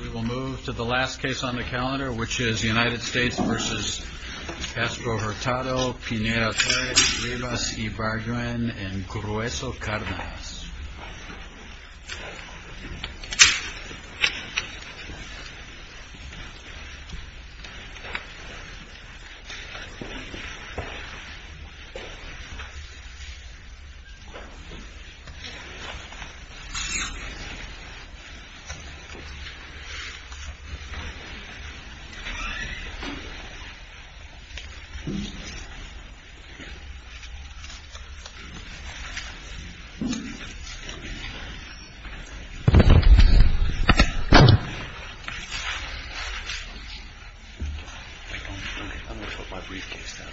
We will move to the last case on the calendar, which is United States v. Castro-Hurtado, Pineda-Torres, Rivas-Ibarguen, and Grueso-Cardenas. I'm going to put my briefcase down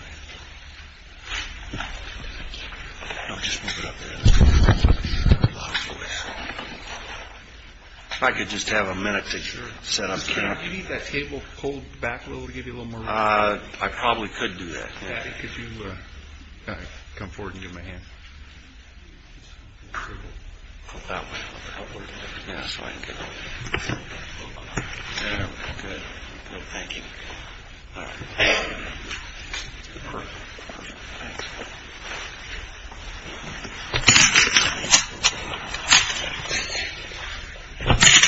here. I'll just move it up there. If I could just have a minute to set up. Do you need that table pulled back a little to give you a little more room? I probably could do that. Daddy, could you come forward and give me a hand? Pull that way a little bit. That's right. Good. Thank you. All right. Perfect. Thanks. Thank you.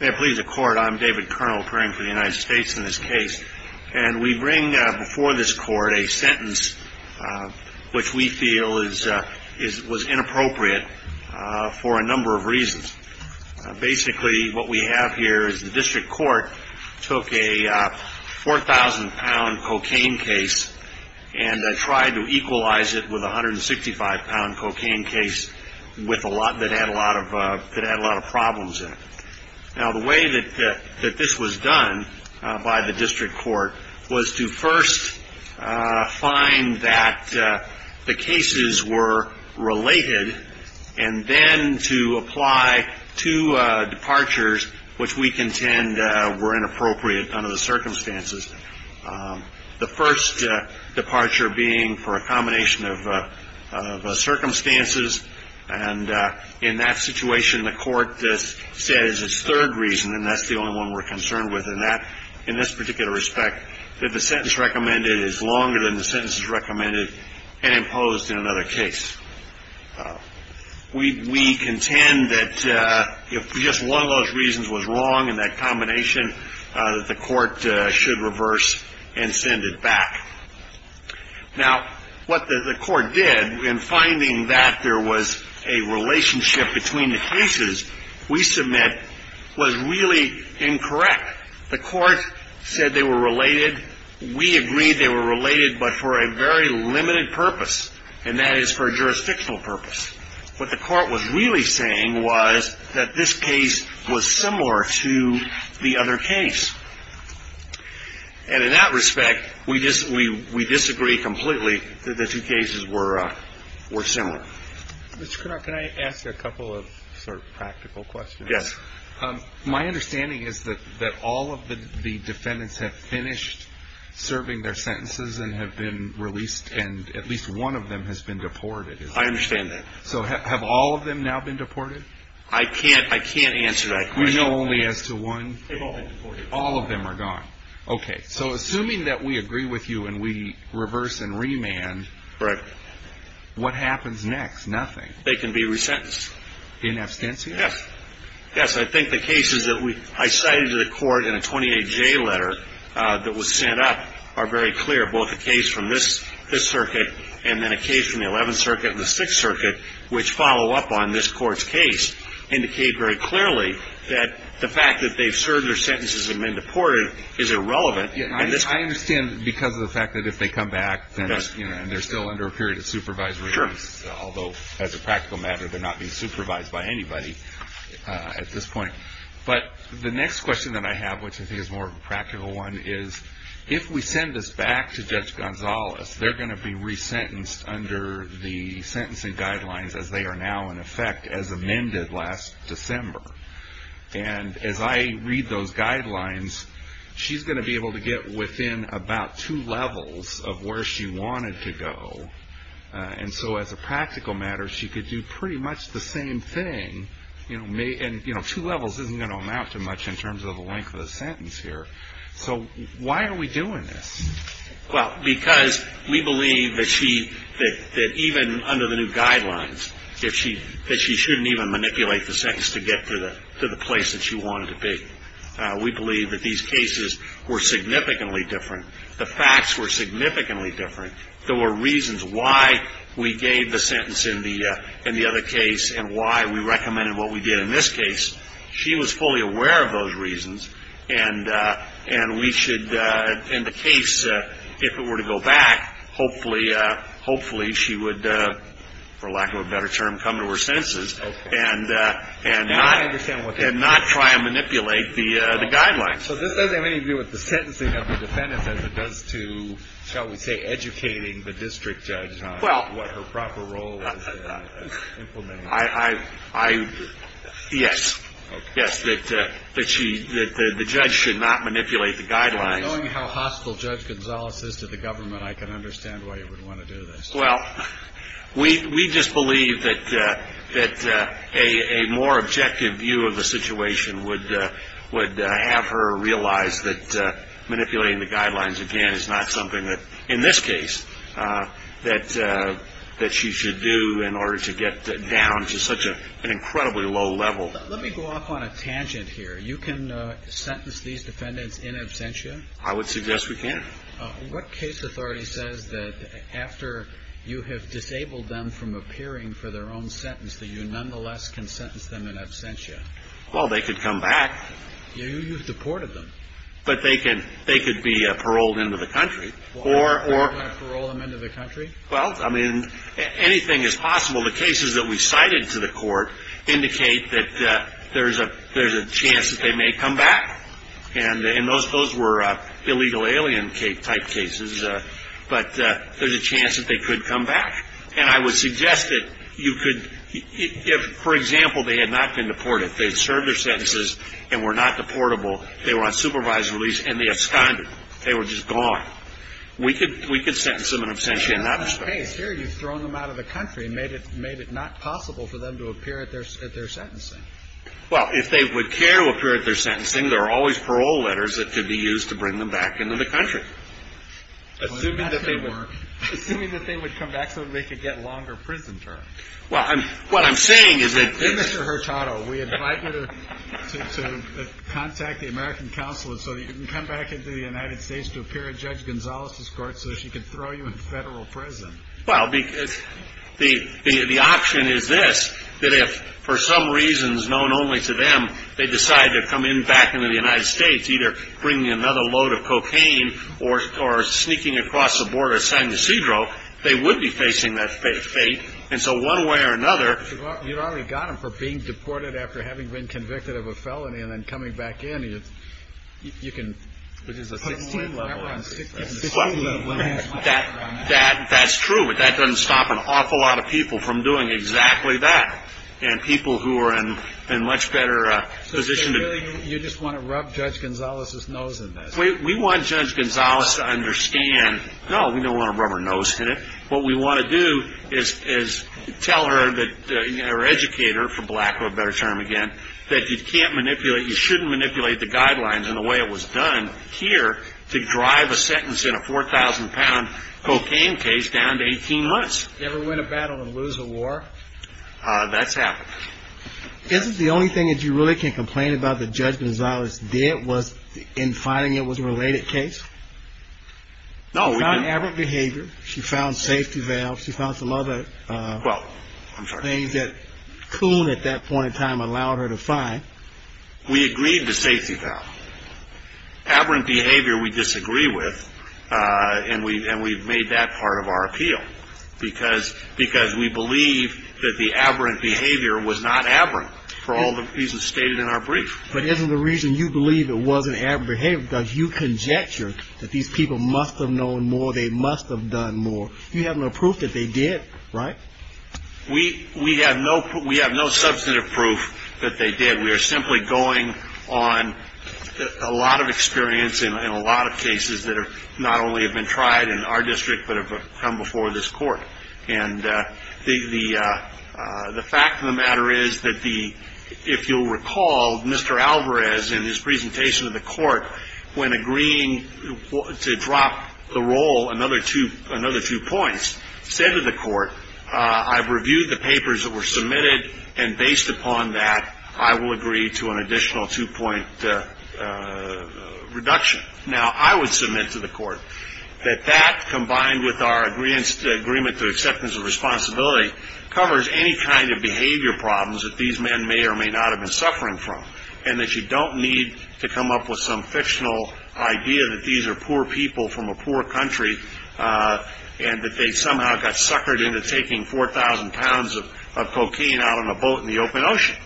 May it please the Court. I'm David Kernel, appearing for the United States in this case. And we bring before this Court a sentence which we feel was inappropriate for a number of reasons. Basically, what we have here is the district court took a 4,000-pound cocaine case and tried to equalize it with a 165-pound cocaine case that had a lot of problems in it. Now, the way that this was done by the district court was to first find that the cases were related and then to apply two departures which we contend were inappropriate under the circumstances, the first departure being for a combination of circumstances. And in that situation, the Court says its third reason, and that's the only one we're concerned with in this particular respect, that the sentence recommended is longer than the sentences recommended and imposed in another case. We contend that if just one of those reasons was wrong in that combination, the Court should reverse and send it back. Now, what the Court did in finding that there was a relationship between the cases we submit was really incorrect. The Court said they were related. We agreed they were related but for a very limited purpose, and that is for a jurisdictional purpose. What the Court was really saying was that this case was similar to the other case. And in that respect, we disagree completely that the two cases were similar. Mr. Krenak, can I ask you a couple of sort of practical questions? Yes. My understanding is that all of the defendants have finished serving their sentences and have been released, and at least one of them has been deported. I understand that. So have all of them now been deported? I can't answer that question. We know only as to one? They've all been deported. All of them are gone. Okay. So assuming that we agree with you and we reverse and remand, what happens next? Nothing. They can be resentenced. In absentia? Yes. Yes, I think the cases that I cited to the Court in a 28J letter that was sent up are very clear. Both the case from this circuit and then a case from the 11th Circuit and the 6th Circuit, which follow up on this Court's case, indicate very clearly that the fact that they've served their sentences and been deported is irrelevant. I understand because of the fact that if they come back and they're still under a period of supervisory, although as a practical matter they're not being supervised by anybody at this point. But the next question that I have, which I think is a more practical one, is if we send this back to Judge Gonzalez, they're going to be resentenced under the sentencing guidelines as they are now in effect as amended last December. And as I read those guidelines, she's going to be able to get within about two levels of where she wanted to go. And so as a practical matter, she could do pretty much the same thing. And two levels isn't going to amount to much in terms of the length of the sentence here. So why are we doing this? Well, because we believe that she, that even under the new guidelines, that she shouldn't even manipulate the sentence to get to the place that she wanted to be. We believe that these cases were significantly different. The facts were significantly different. There were reasons why we gave the sentence in the other case and why we recommended what we did in this case. She was fully aware of those reasons. And we should, in the case, if it were to go back, hopefully she would, for lack of a better term, come to her senses. And not try and manipulate the guidelines. So this doesn't have anything to do with the sentencing of the defendants as it does to, shall we say, educating the district judge on what her proper role is in implementing it. Yes. Yes, that the judge should not manipulate the guidelines. Knowing how hostile Judge Gonzales is to the government, I can understand why you would want to do this. Well, we just believe that a more objective view of the situation would have her realize that manipulating the guidelines again is not something that, in this case, that she should do in order to get down to such an incredibly low level. Let me go off on a tangent here. You can sentence these defendants in absentia? I would suggest we can. What case authority says that after you have disabled them from appearing for their own sentence, that you nonetheless can sentence them in absentia? Well, they could come back. You've deported them. But they could be paroled into the country. Why would you want to parole them into the country? Well, I mean, anything is possible. The cases that we cited to the court indicate that there's a chance that they may come back. And those were illegal alien type cases. But there's a chance that they could come back. And I would suggest that you could, if, for example, they had not been deported, if they had served their sentences and were not deportable, they were on supervised release, and they absconded. They were just gone. We could sentence them in absentia in that respect. But in that case here, you've thrown them out of the country and made it not possible for them to appear at their sentencing. Well, if they would care to appear at their sentencing, there are always parole letters that could be used to bring them back into the country. Assuming that they were. Assuming that they would come back so that they could get longer prison terms. Well, what I'm saying is that. Mr. Hurtado, we invite you to contact the American Council so that you can come back into the United States to appear at Judge Gonzales' court so that she can throw you in federal prison. Well, because the option is this, that if, for some reasons known only to them, they decide to come in back into the United States, either bringing another load of cocaine or sneaking across the border of San Ysidro, they would be facing that fate. And so one way or another. You've already got them for being deported after having been convicted of a felony and then coming back in. You can put them away. That's true, but that doesn't stop an awful lot of people from doing exactly that. And people who are in a much better position. So you just want to rub Judge Gonzales' nose in this? We want Judge Gonzales to understand, no, we don't want to rub her nose in it. What we want to do is tell her or educate her, for lack of a better term again, that you can't manipulate, you shouldn't manipulate the guidelines in the way it was done here to drive a sentence in a 4,000-pound cocaine case down to 18 months. Ever win a battle and lose a war? That's happened. Isn't the only thing that you really can complain about that Judge Gonzales did was in finding it was a related case? No, we didn't. She found aberrant behavior. She found safety valves. She found some other things that Coon at that point in time allowed her to find. We agreed to safety valve. Aberrant behavior we disagree with, and we've made that part of our appeal, because we believe that the aberrant behavior was not aberrant for all the reasons stated in our brief. But isn't the reason you believe it wasn't aberrant behavior because you conjecture that these people must have known more, they must have done more? You have no proof that they did, right? We have no substantive proof that they did. We are simply going on a lot of experience in a lot of cases that not only have been tried in our district but have come before this court. And the fact of the matter is that if you'll recall, Mr. Alvarez in his presentation to the court, when agreeing to drop the role another two points, said to the court, I've reviewed the papers that were submitted, and based upon that I will agree to an additional two-point reduction. Now, I would submit to the court that that, combined with our agreement to acceptance of responsibility, covers any kind of behavior problems that these men may or may not have been suffering from and that you don't need to come up with some fictional idea that these are poor people from a poor country and that they somehow got suckered into taking 4,000 pounds of cocaine out on a boat in the open ocean,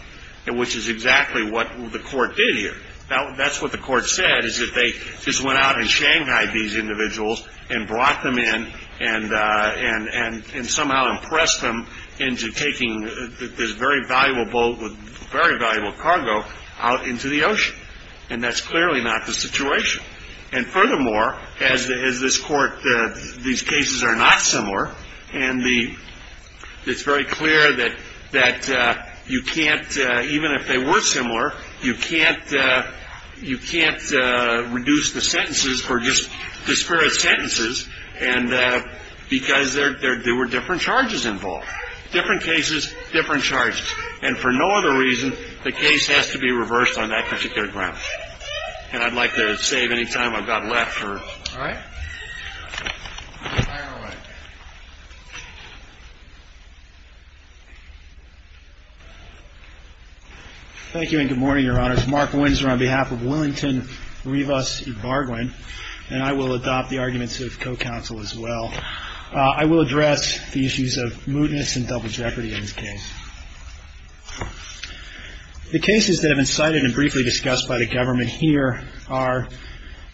which is exactly what the court did here. Now, that's what the court said, is that they just went out in Shanghai, these individuals, and brought them in and somehow impressed them into taking this very valuable boat with very valuable cargo out into the ocean. And that's clearly not the situation. And furthermore, as this court, these cases are not similar, and it's very clear that you can't, even if they were similar, you can't reduce the sentences for just disparate sentences because there were different charges involved, different cases, different charges. And for no other reason, the case has to be reversed on that particular ground. And I'd like to save any time I've got left. All right? Fire away. Thank you and good morning, Your Honors. Mark Windsor on behalf of Willington Rivas Ybarguen, and I will adopt the arguments of co-counsel as well. I will address the issues of mootness and double jeopardy in this case. The cases that have been cited and briefly discussed by the government here are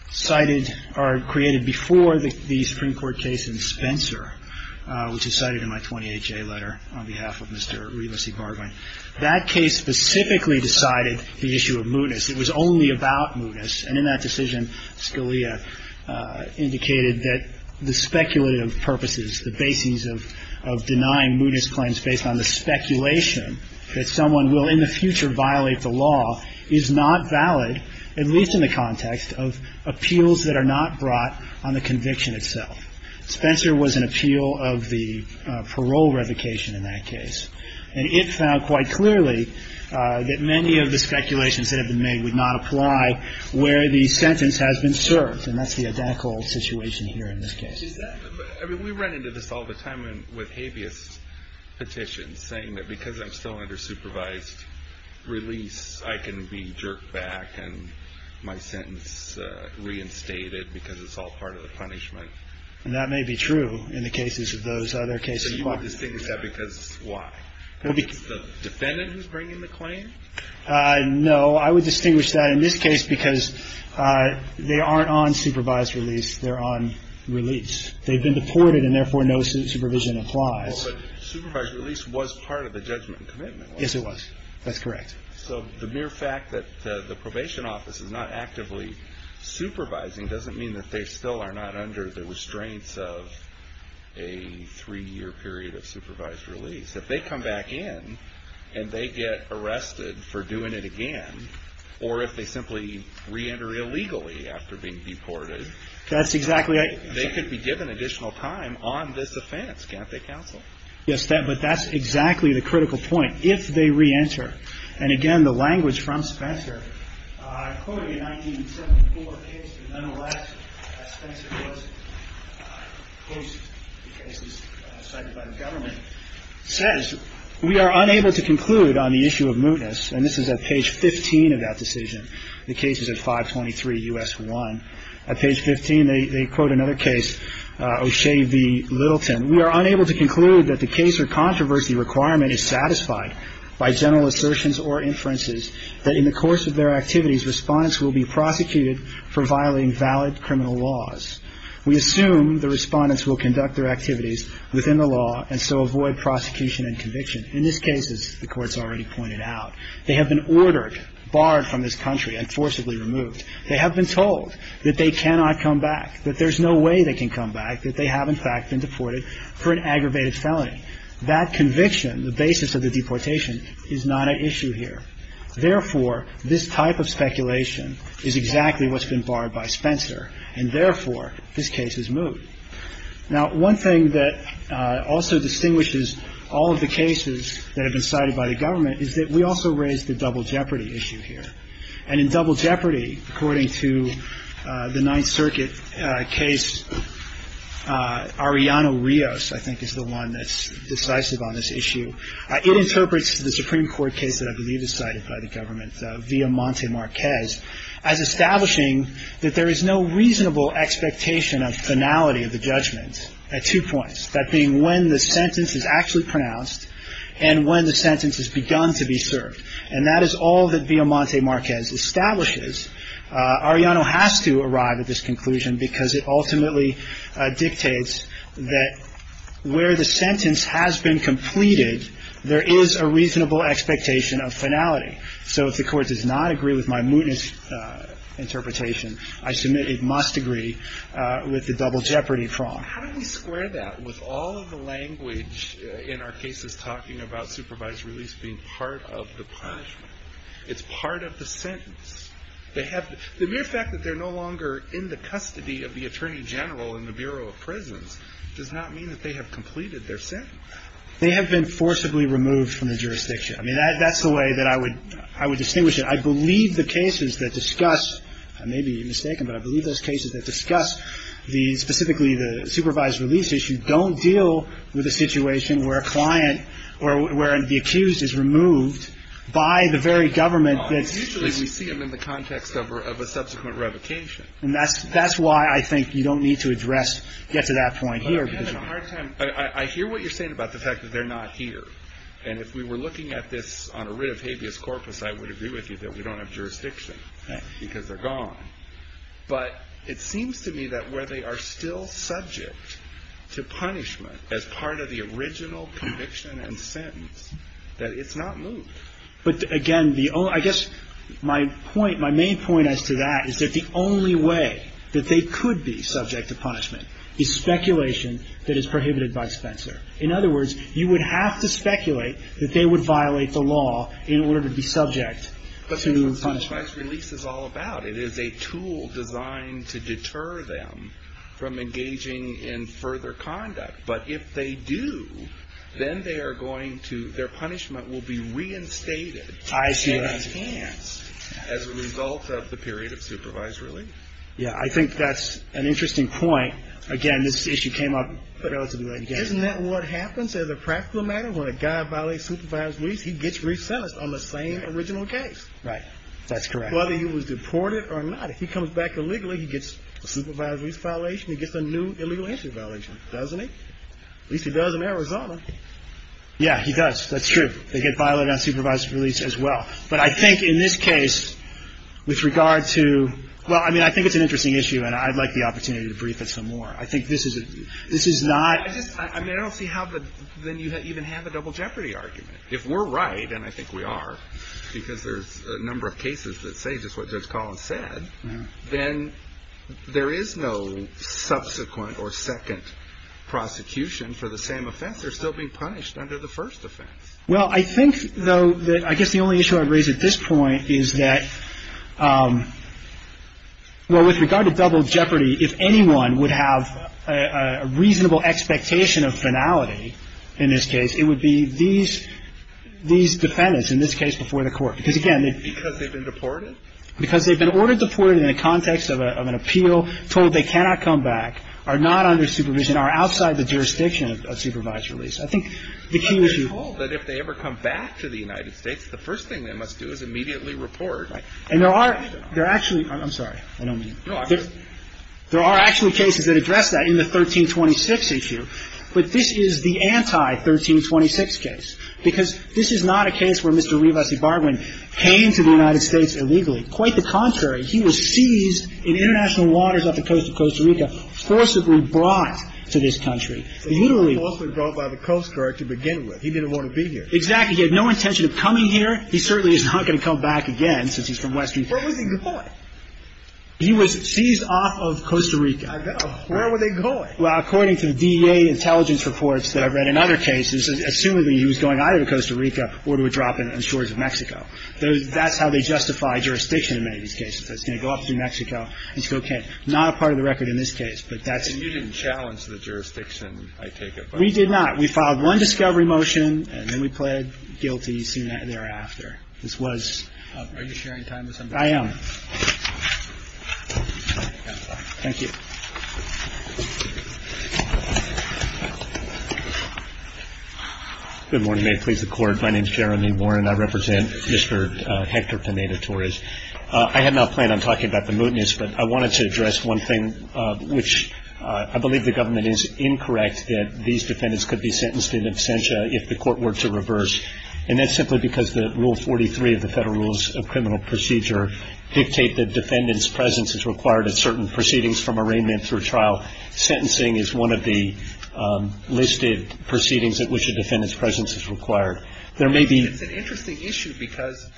cited or created before the Supreme Court case in Spencer, which is cited in my 28-J letter on behalf of Mr. Rivas Ybarguen. That case specifically decided the issue of mootness. It was only about mootness. And in that decision, Scalia indicated that the speculative purposes, the basis of denying mootness claims based on the speculation that someone will in the future violate the law is not valid, at least in the context of appeals that are not brought on the conviction itself. Spencer was an appeal of the parole revocation in that case. And it found quite clearly that many of the speculations that have been made would not apply where the sentence has been served. And that's the identical situation here in this case. I mean, we run into this all the time with habeas petitions, saying that because I'm still under supervised release, I can be jerked back and my sentence reinstated because it's all part of the punishment. And that may be true in the cases of those other cases. So you would distinguish that because why? Because the defendant is bringing the claim? No. I would distinguish that in this case because they aren't on supervised release. They're on release. They've been deported, and therefore no supervision applies. Well, but supervised release was part of the judgment and commitment, wasn't it? Yes, it was. That's correct. So the mere fact that the probation office is not actively supervising doesn't mean that they still are not under the restraints of a three-year period of supervised release. If they come back in and they get arrested for doing it again, or if they simply reenter illegally after being deported, they could be given additional time on this offense. Can't they, counsel? Yes, but that's exactly the critical point. If they reenter, and again, the language from Spencer, I quoted a 1974 case that nonetheless, as Spencer puts it, the cases cited by the government, says we are unable to conclude on the issue of mootness. And this is at page 15 of that decision, the cases at 523 U.S. 1. At page 15, they quote another case, O'Shea v. Littleton. We are unable to conclude that the case or controversy requirement is satisfied by general assertions or inferences that in the course of their activities, respondents will be prosecuted for violating valid criminal laws. We assume the respondents will conduct their activities within the law and so avoid prosecution and conviction. In this case, as the Court's already pointed out, they have been ordered, barred from this country and forcibly removed. They have been told that they cannot come back, that there's no way they can come back, that they have, in fact, been deported for an aggravated felony. That conviction, the basis of the deportation, is not at issue here. Therefore, this type of speculation is exactly what's been barred by Spencer, and therefore, this case is moot. Now, one thing that also distinguishes all of the cases that have been cited by the government is that we also raise the double jeopardy issue here. And in double jeopardy, according to the Ninth Circuit case, Arellano Rios, I think, is the one that's decisive on this issue. It interprets the Supreme Court case that I believe is cited by the government, via Monte Marquez, as establishing that there is no reasonable expectation of finality of the judgment at two points, that being when the sentence is actually pronounced and when the sentence has begun to be served. And that is all that via Monte Marquez establishes. Arellano has to arrive at this conclusion because it ultimately dictates that where the sentence has been completed, there is a reasonable expectation of finality. So if the Court does not agree with my mootness interpretation, I submit it must agree with the double jeopardy prong. How do we square that with all of the language in our cases talking about supervised release being part of the punishment? It's part of the sentence. The mere fact that they're no longer in the custody of the Attorney General in the Bureau of Prisons does not mean that they have completed their sentence. They have been forcibly removed from the jurisdiction. I mean, that's the way that I would distinguish it. I believe the cases that discuss, I may be mistaken, but I believe those cases that discuss specifically the supervised release issue don't deal with a situation where a client or where the accused is removed by the very government. Usually we see them in the context of a subsequent revocation. And that's why I think you don't need to address, get to that point here. I hear what you're saying about the fact that they're not here. And if we were looking at this on a writ of habeas corpus, I would agree with you that we don't have jurisdiction because they're gone. But it seems to me that where they are still subject to punishment as part of the original conviction and sentence, that it's not moved. But again, I guess my point, my main point as to that is that the only way that they could be subject to punishment is speculation that is prohibited by Spencer. In other words, you would have to speculate that they would violate the law in order to be subject to punishment. That's what supervised release is all about. It is a tool designed to deter them from engaging in further conduct. But if they do, then they are going to, their punishment will be reinstated and enhanced as a result of the period of supervised release. Yeah, I think that's an interesting point. Again, this issue came up relatively late in the game. Isn't that what happens as a practical matter? When a guy violates supervised release, he gets re-sentenced on the same original case. Right. That's correct. Whether he was deported or not. If he comes back illegally, he gets a supervised release violation. He gets a new illegal entry violation, doesn't he? At least he does in Arizona. Yeah, he does. That's true. They get violated on supervised release as well. But I think in this case, with regard to, well, I mean, I think it's an interesting issue and I'd like the opportunity to brief it some more. I think this is not... I just, I mean, I don't see how then you even have a double jeopardy argument. If we're right, and I think we are, because there's a number of cases that say just what Judge Collins said, then there is no subsequent or second prosecution for the same offense. They're still being punished under the first offense. Well, I think, though, that I guess the only issue I'd raise at this point is that, well, with regard to double jeopardy, if anyone would have a reasonable expectation of finality in this case, it would be these defendants, in this case, before the court. Because, again... Because they've been deported? Because they've been ordered deported in the context of an appeal, told they cannot come back, are not under supervision, are outside the jurisdiction of supervised release. I think the key issue... But they're told that if they ever come back to the United States, the first thing they must do is immediately report. And there are actually... I'm sorry. I don't mean... No, I just... There are actually cases that address that in the 1326 issue. But this is the anti-1326 case. Because this is not a case where Mr. Revesi-Barwin came to the United States illegally. Quite the contrary. He was seized in international waters off the coast of Costa Rica, forcibly brought to this country. So he was forcibly brought by the Coast Guard to begin with. He didn't want to be here. Exactly. He had no intention of coming here. He certainly is not going to come back again, since he's from Western... Where was he deported? He was seized off of Costa Rica. I know. Where were they going? Well, according to the DEA intelligence reports that I've read in other cases, assumedly he was going either to Costa Rica or to a drop in the shores of Mexico. That's how they justify jurisdiction in many of these cases. It's going to go up through Mexico. It's okay. Not a part of the record in this case, but that's... And you didn't challenge the jurisdiction, I take it? We did not. We filed one discovery motion, and then we pled guilty soon thereafter. This was... Are you sharing time with somebody? I am. Thank you. Good morning. May it please the Court. My name is Jeremy Warren. I represent Mr. Hector Pineda-Torres. I had not planned on talking about the mootness, but I wanted to address one thing, which I believe the government is incorrect that these defendants could be sentenced in absentia if the court were to reverse, and that's simply because Rule 43 of the Federal Rules of Criminal Procedure dictate that defendants' presence is required at certain proceedings from arraignment through trial, sentencing is one of the listed proceedings at which a defendant's presence is required. There may be... It's an interesting issue because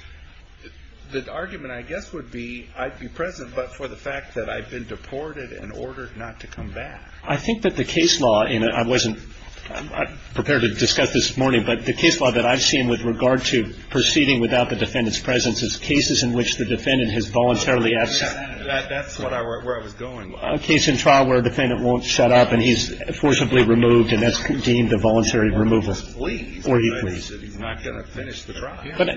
the argument, I guess, would be I'd be present, but for the fact that I've been deported and ordered not to come back. I think that the case law in... I wasn't prepared to discuss this morning, but the case law that I've seen with regard to proceeding without the defendant's presence is cases in which the defendant has voluntarily... That's where I was going. A case in trial where a defendant won't shut up and he's forcibly removed, and that's deemed a voluntary removal. Or he pleads. He pleads that he's not going to finish the trial. But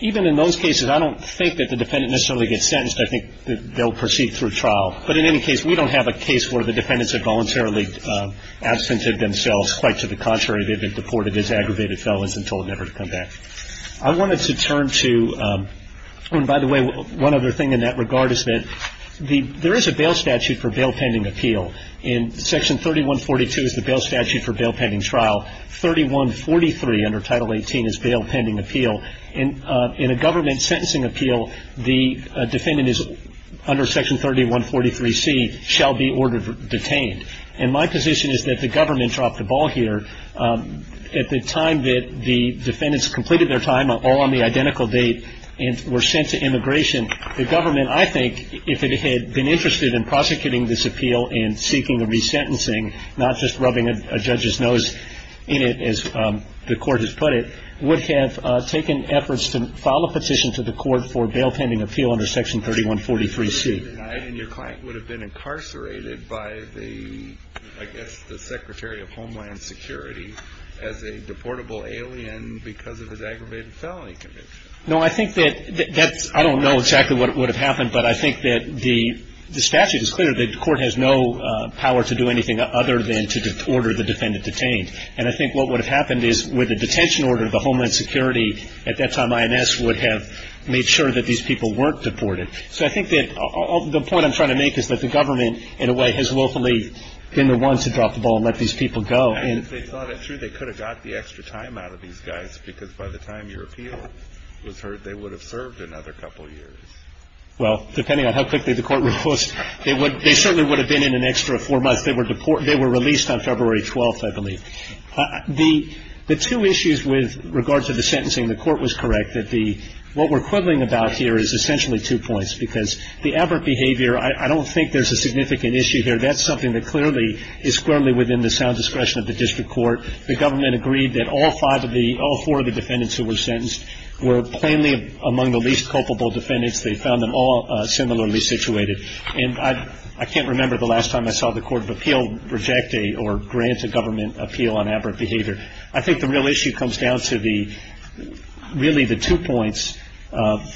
even in those cases, I don't think that the defendant necessarily gets sentenced. I think that they'll proceed through trial. But in any case, we don't have a case where the defendants have voluntarily absented themselves. Quite to the contrary, they've been deported as aggravated felons and told never to come back. I wanted to turn to... And by the way, one other thing in that regard is that there is a bail statute for bail pending appeal. And Section 3142 is the bail statute for bail pending trial. 3143 under Title 18 is bail pending appeal. In a government sentencing appeal, the defendant is under Section 3143C, shall be ordered detained. And my position is that the government dropped the ball here. At the time that the defendants completed their time, all on the identical date, and were sent to immigration, the government, I think, if it had been interested in prosecuting this appeal and seeking a resentencing, not just rubbing a judge's nose in it, as the court has put it, would have taken efforts to file a petition to the court for bail pending appeal under Section 3143C. And your client would have been incarcerated by the, I guess, the Secretary of Homeland Security as a deportable alien because of his aggravated felony conviction. No, I think that, that's, I don't know exactly what would have happened, but I think that the statute is clear. The court has no power to do anything other than to order the defendant detained. And I think what would have happened is with a detention order, the Homeland Security, at that time, IMS would have made sure that these people weren't deported. So I think that, the point I'm trying to make is that the government, in a way, has willfully been the one to drop the ball and let these people go. And if they thought it through, they could have got the extra time out of these guys because by the time your appeal was heard, they would have served another couple of years. Well, depending on how quickly the court would post, they would, they certainly would have been in an extra four months. They were deported, they were released on February 12th, I believe. The, the two issues with regard to the sentencing, the court was correct, that the, what we're quibbling about here is essentially two points because the aberrant behavior, I don't think there's a significant issue here. That's something that clearly, is clearly within the sound discretion of the district court. The government agreed that all five of the, all four of the defendants who were sentenced were plainly among the least culpable defendants. They found them all similarly situated. And I, I can't remember the last time I saw the court of appeal reject a, or grant a government appeal on aberrant behavior. I think the real issue comes down to the, really the two points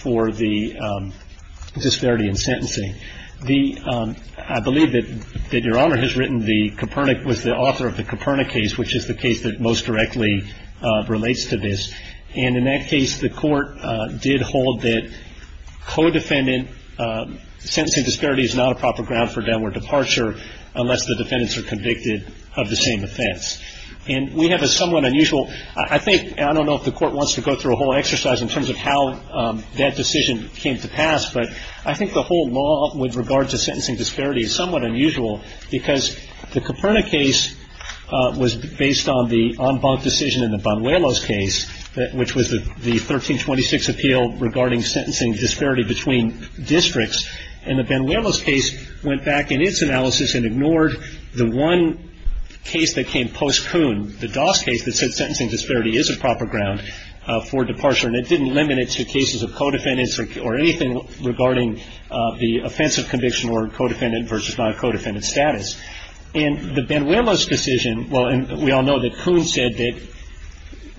for the disparity in sentencing. The, I believe that, that Your Honor has written the Copernic, was the author of the Copernic case, which is the case that most directly relates to this. And in that case, the court did hold that co-defendant sentencing disparity is not a proper ground for downward departure unless the defendants are convicted of the same offense. And we have a somewhat unusual, I think, I don't know if the court wants to go through a whole exercise in terms of how that decision came to pass, but I think the whole law with regards to sentencing disparity is somewhat unusual because the Copernic case was based on the en banc decision in the Banuelos case, which was the 1326 appeal regarding sentencing disparity between districts. And the Banuelos case went back in its analysis and ignored the one case that came post-Coon, the Doss case that said sentencing disparity is a proper ground for departure. And it didn't limit it to cases of co-defendants or anything regarding the offensive conviction or co-defendant versus non-co-defendant status. In the Banuelos decision, well, and we all know that Coon said that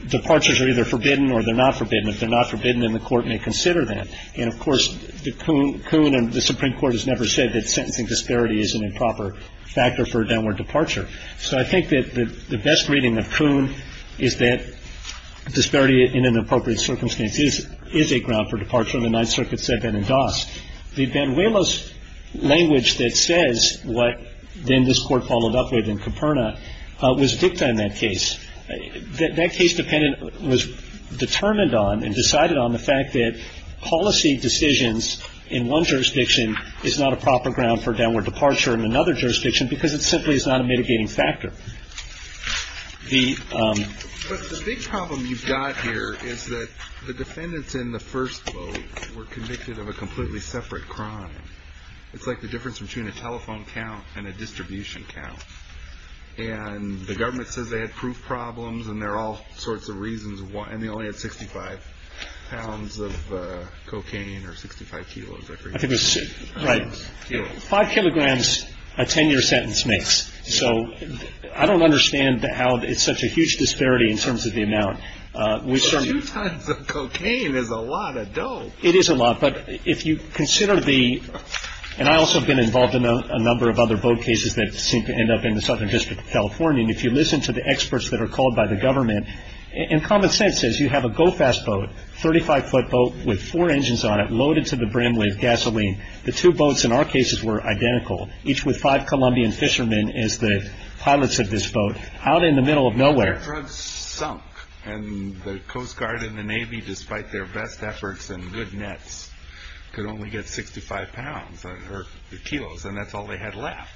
departures are either forbidden or they're not forbidden. If they're not forbidden, then the court may consider that. And of course, Coon and the Supreme Court has never said that sentencing disparity is an improper factor for a downward departure. So I think that the best reading of Coon is that disparity in an appropriate circumstance is a ground for departure in the Ninth Circuit, said Ben and Doss. The Banuelos language that says what then this Court followed up with in Caperna was dicta in that case. That case was determined on and decided on the fact that policy decisions in one jurisdiction is not a proper ground for a downward departure in another jurisdiction because it simply is not a mitigating factor. But the big problem you've got here is that the defendants in the first vote were convicted of a completely separate crime. It's like the difference between a telephone count and a distribution count. And the government says they had proof problems, and there are all sorts of reasons why, and they only had 65 pounds of cocaine or 65 kilos. Right. Five kilograms a 10-year sentence makes. So I don't understand how it's such a huge disparity in terms of the amount. Two tons of cocaine is a lot of dough. It is a lot. But if you consider the, and I also have been involved in a number of other vote cases that seem to end up in the Southern District of California, and if you listen to the experts that are called by the government, and common sense says you have a go-fast boat, 35-foot boat with four engines on it loaded to the brim with gasoline, the two boats in our cases were identical, each with five Colombian fishermen as the pilots of this boat, out in the middle of nowhere. Their drugs sunk, and the Coast Guard and the Navy, despite their best efforts and good nets, could only get 65 pounds or kilos, and that's all they had left.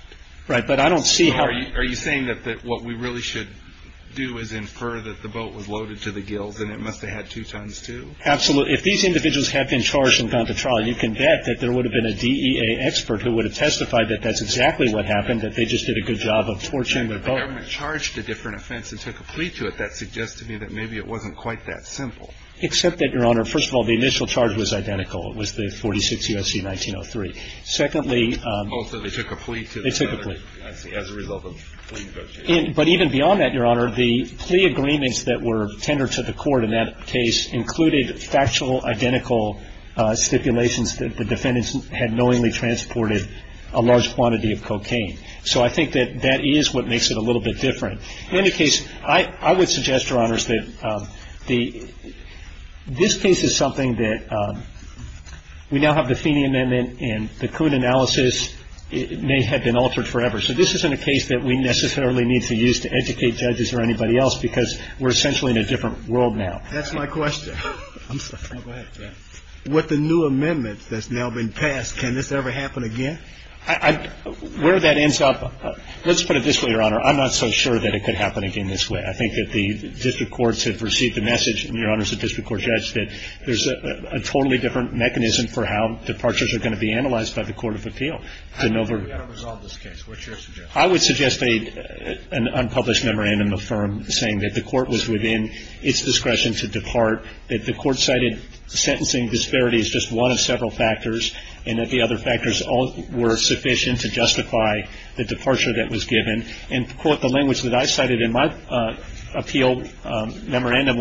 Right, but I don't see how. Are you saying that what we really should do is infer that the boat was loaded to the gills, and it must have had two tons too? Absolutely. If these individuals had been charged and gone to trial, you can bet that there would have been a DEA expert who would have testified that that's exactly what happened, that they just did a good job of torching the boat. Right, but the government charged a different offense and took a plea to it. That suggests to me that maybe it wasn't quite that simple. Except that, Your Honor, first of all, the initial charge was identical. It was the 46 U.S.C. 1903. Secondly. Oh, so they took a plea to the. They took a plea. I see. As a result of fleeing the boat. But even beyond that, Your Honor, the plea agreements that were tendered to the court in that case included factual, identical stipulations that the defendants had knowingly transported a large quantity of cocaine. So I think that that is what makes it a little bit different. In any case, I would suggest, Your Honors, that this case is something that we now have the Feeney Amendment, and the court analysis may have been altered forever. So this isn't a case that we necessarily need to use to educate judges or anybody else, because we're essentially in a different world now. That's my question. I'm sorry. Go ahead. With the new amendment that's now been passed, can this ever happen again? Where that ends up, let's put it this way, Your Honor, I'm not so sure that it could happen again this way. I think that the district courts have received the message, and Your Honors, the district court judge, that there's a totally different mechanism for how departures are going to be analyzed by the court of appeal. We've got to resolve this case. What's your suggestion? I would suggest an unpublished memorandum of firm saying that the court was within its discretion to depart, that the court cited sentencing disparity as just one of several factors, and that the other factors were sufficient to justify the departure that was given, and, quote, the language that I cited in my appeal memorandum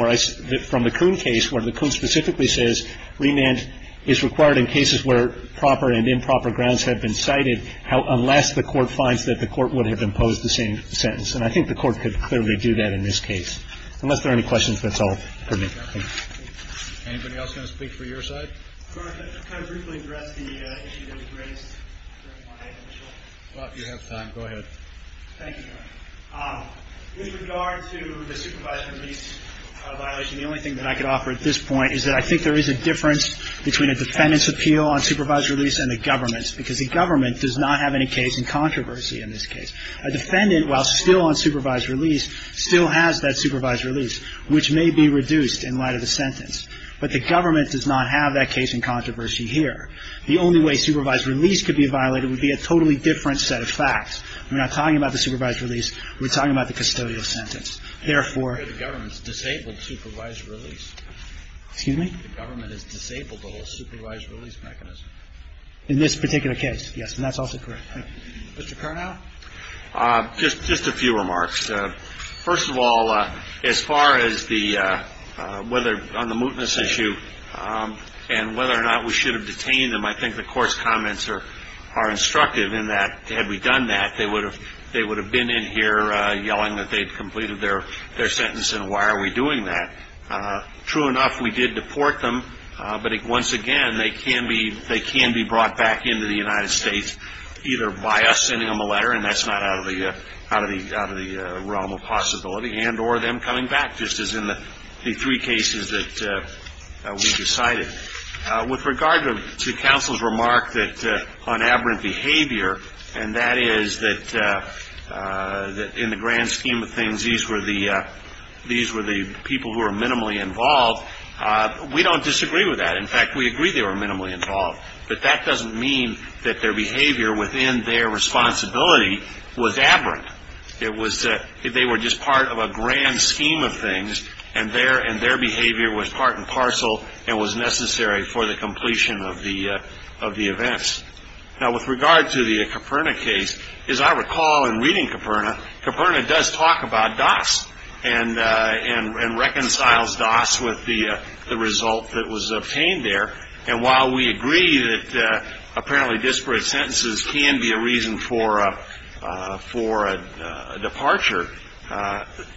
from the Kuhn case, where the Kuhn specifically says remand is required in cases where proper and improper grounds have been cited, unless the court finds that the court would have imposed the same sentence. And I think the court could clearly do that in this case. Unless there are any questions, that's all for me. Thank you. Anybody else going to speak for your side? Your Honor, can I briefly address the issue that was raised during my initial? Thank you, Your Honor. With regard to the supervised release violation, the only thing that I could offer at this point is that I think there is a difference between a defendant's appeal on supervised release and the government's, because the government does not have any case in controversy in this case. A defendant, while still on supervised release, still has that supervised release, which may be reduced in light of the sentence. But the government does not have that case in controversy here. The only way supervised release could be violated would be a totally different set of facts. We're not talking about the supervised release. We're talking about the custodial sentence. Therefore, the government's disabled supervised release. Excuse me? The government is disabled the whole supervised release mechanism. In this particular case, yes. And that's also correct. Mr. Carnow? Just a few remarks. First of all, as far as whether on the mootness issue and whether or not we should have detained him, I think the court's comments are instructive in that, had we done that they would have been in here yelling that they'd completed their sentence and why are we doing that. True enough, we did deport them, but once again they can be brought back into the United States either by us sending them a letter, and that's not out of the realm of possibility, and or them coming back, just as in the three cases that we decided. With regard to counsel's remark on aberrant behavior, and that is that in the grand scheme of things these were the people who were minimally involved, we don't disagree with that. In fact, we agree they were minimally involved, but that doesn't mean that their behavior within their responsibility was aberrant. It was that they were just part of a grand scheme of things and their behavior was part and parcel and was necessary for the completion of the events. Now with regard to the Caperna case, as I recall in reading Caperna, Caperna does talk about Doss and reconciles Doss with the result that was obtained there, and while we agree that apparently disparate sentences can be a reason for a departure,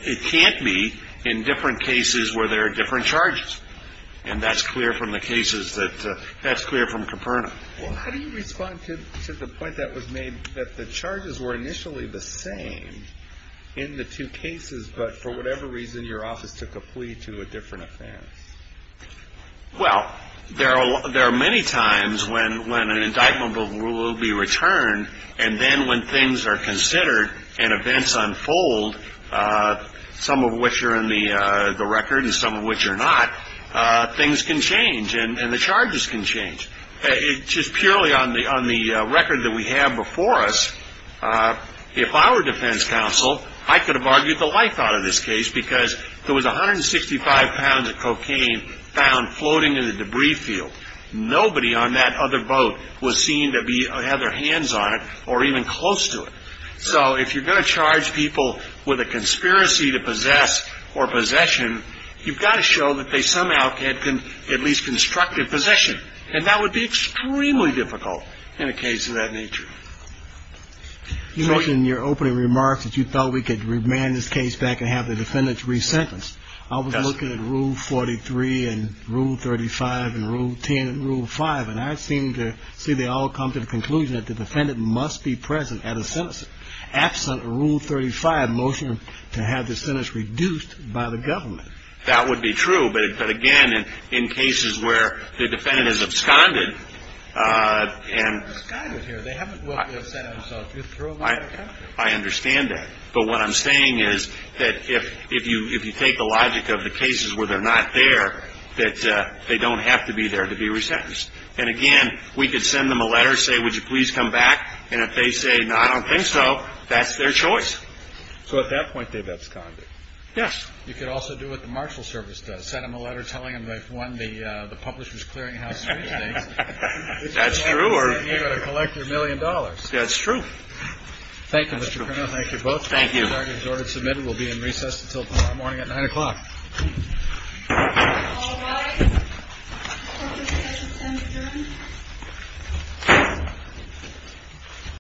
it can't be in different cases where there are different charges, and that's clear from the cases that, that's clear from Caperna. Well, how do you respond to the point that was made that the charges were initially the same in the two cases, but for whatever reason your office took a plea to a different offense? Well, there are many times when an indictment will be returned, and then when things are considered and events unfold, some of which are in the record and some of which are not, things can change and the charges can change. Just purely on the record that we have before us, if I were defense counsel, I could have argued the life out of this case because there was 165 pounds of cocaine found floating in the debris field. Nobody on that other boat was seen to have their hands on it or even close to it. So if you're going to charge people with a conspiracy to possess or possession, you've got to show that they somehow had at least constructed possession, and that would be extremely difficult in a case of that nature. You mentioned in your opening remarks that you thought we could remand this case back and have the defendants resentenced. I was looking at Rule 43 and Rule 35 and Rule 10 and Rule 5, and I seem to see they all come to the conclusion that the defendant must be present at a sentencing. Absent Rule 35 motion to have the sentence reduced by the government. That would be true, but, again, in cases where the defendant is absconded and ‑‑ They haven't absconded here. They haven't sent themselves. I understand that. But what I'm saying is that if you take the logic of the cases where they're not there, that they don't have to be there to be resentenced. And, again, we could send them a letter, say, Would you please come back? And if they say, No, I don't think so, that's their choice. So at that point, they've absconded. Yes. You could also do what the Marshal Service does. Send them a letter telling them they've won the publisher's clearinghouse three days. That's true. You've got to collect your million dollars. That's true. Thank you, Mr. Colonel. Thank you both. Thank you. The argument is ordered and submitted. We'll be in recess until tomorrow morning at 9 o'clock. All rise. Court is in session 10 adjourned.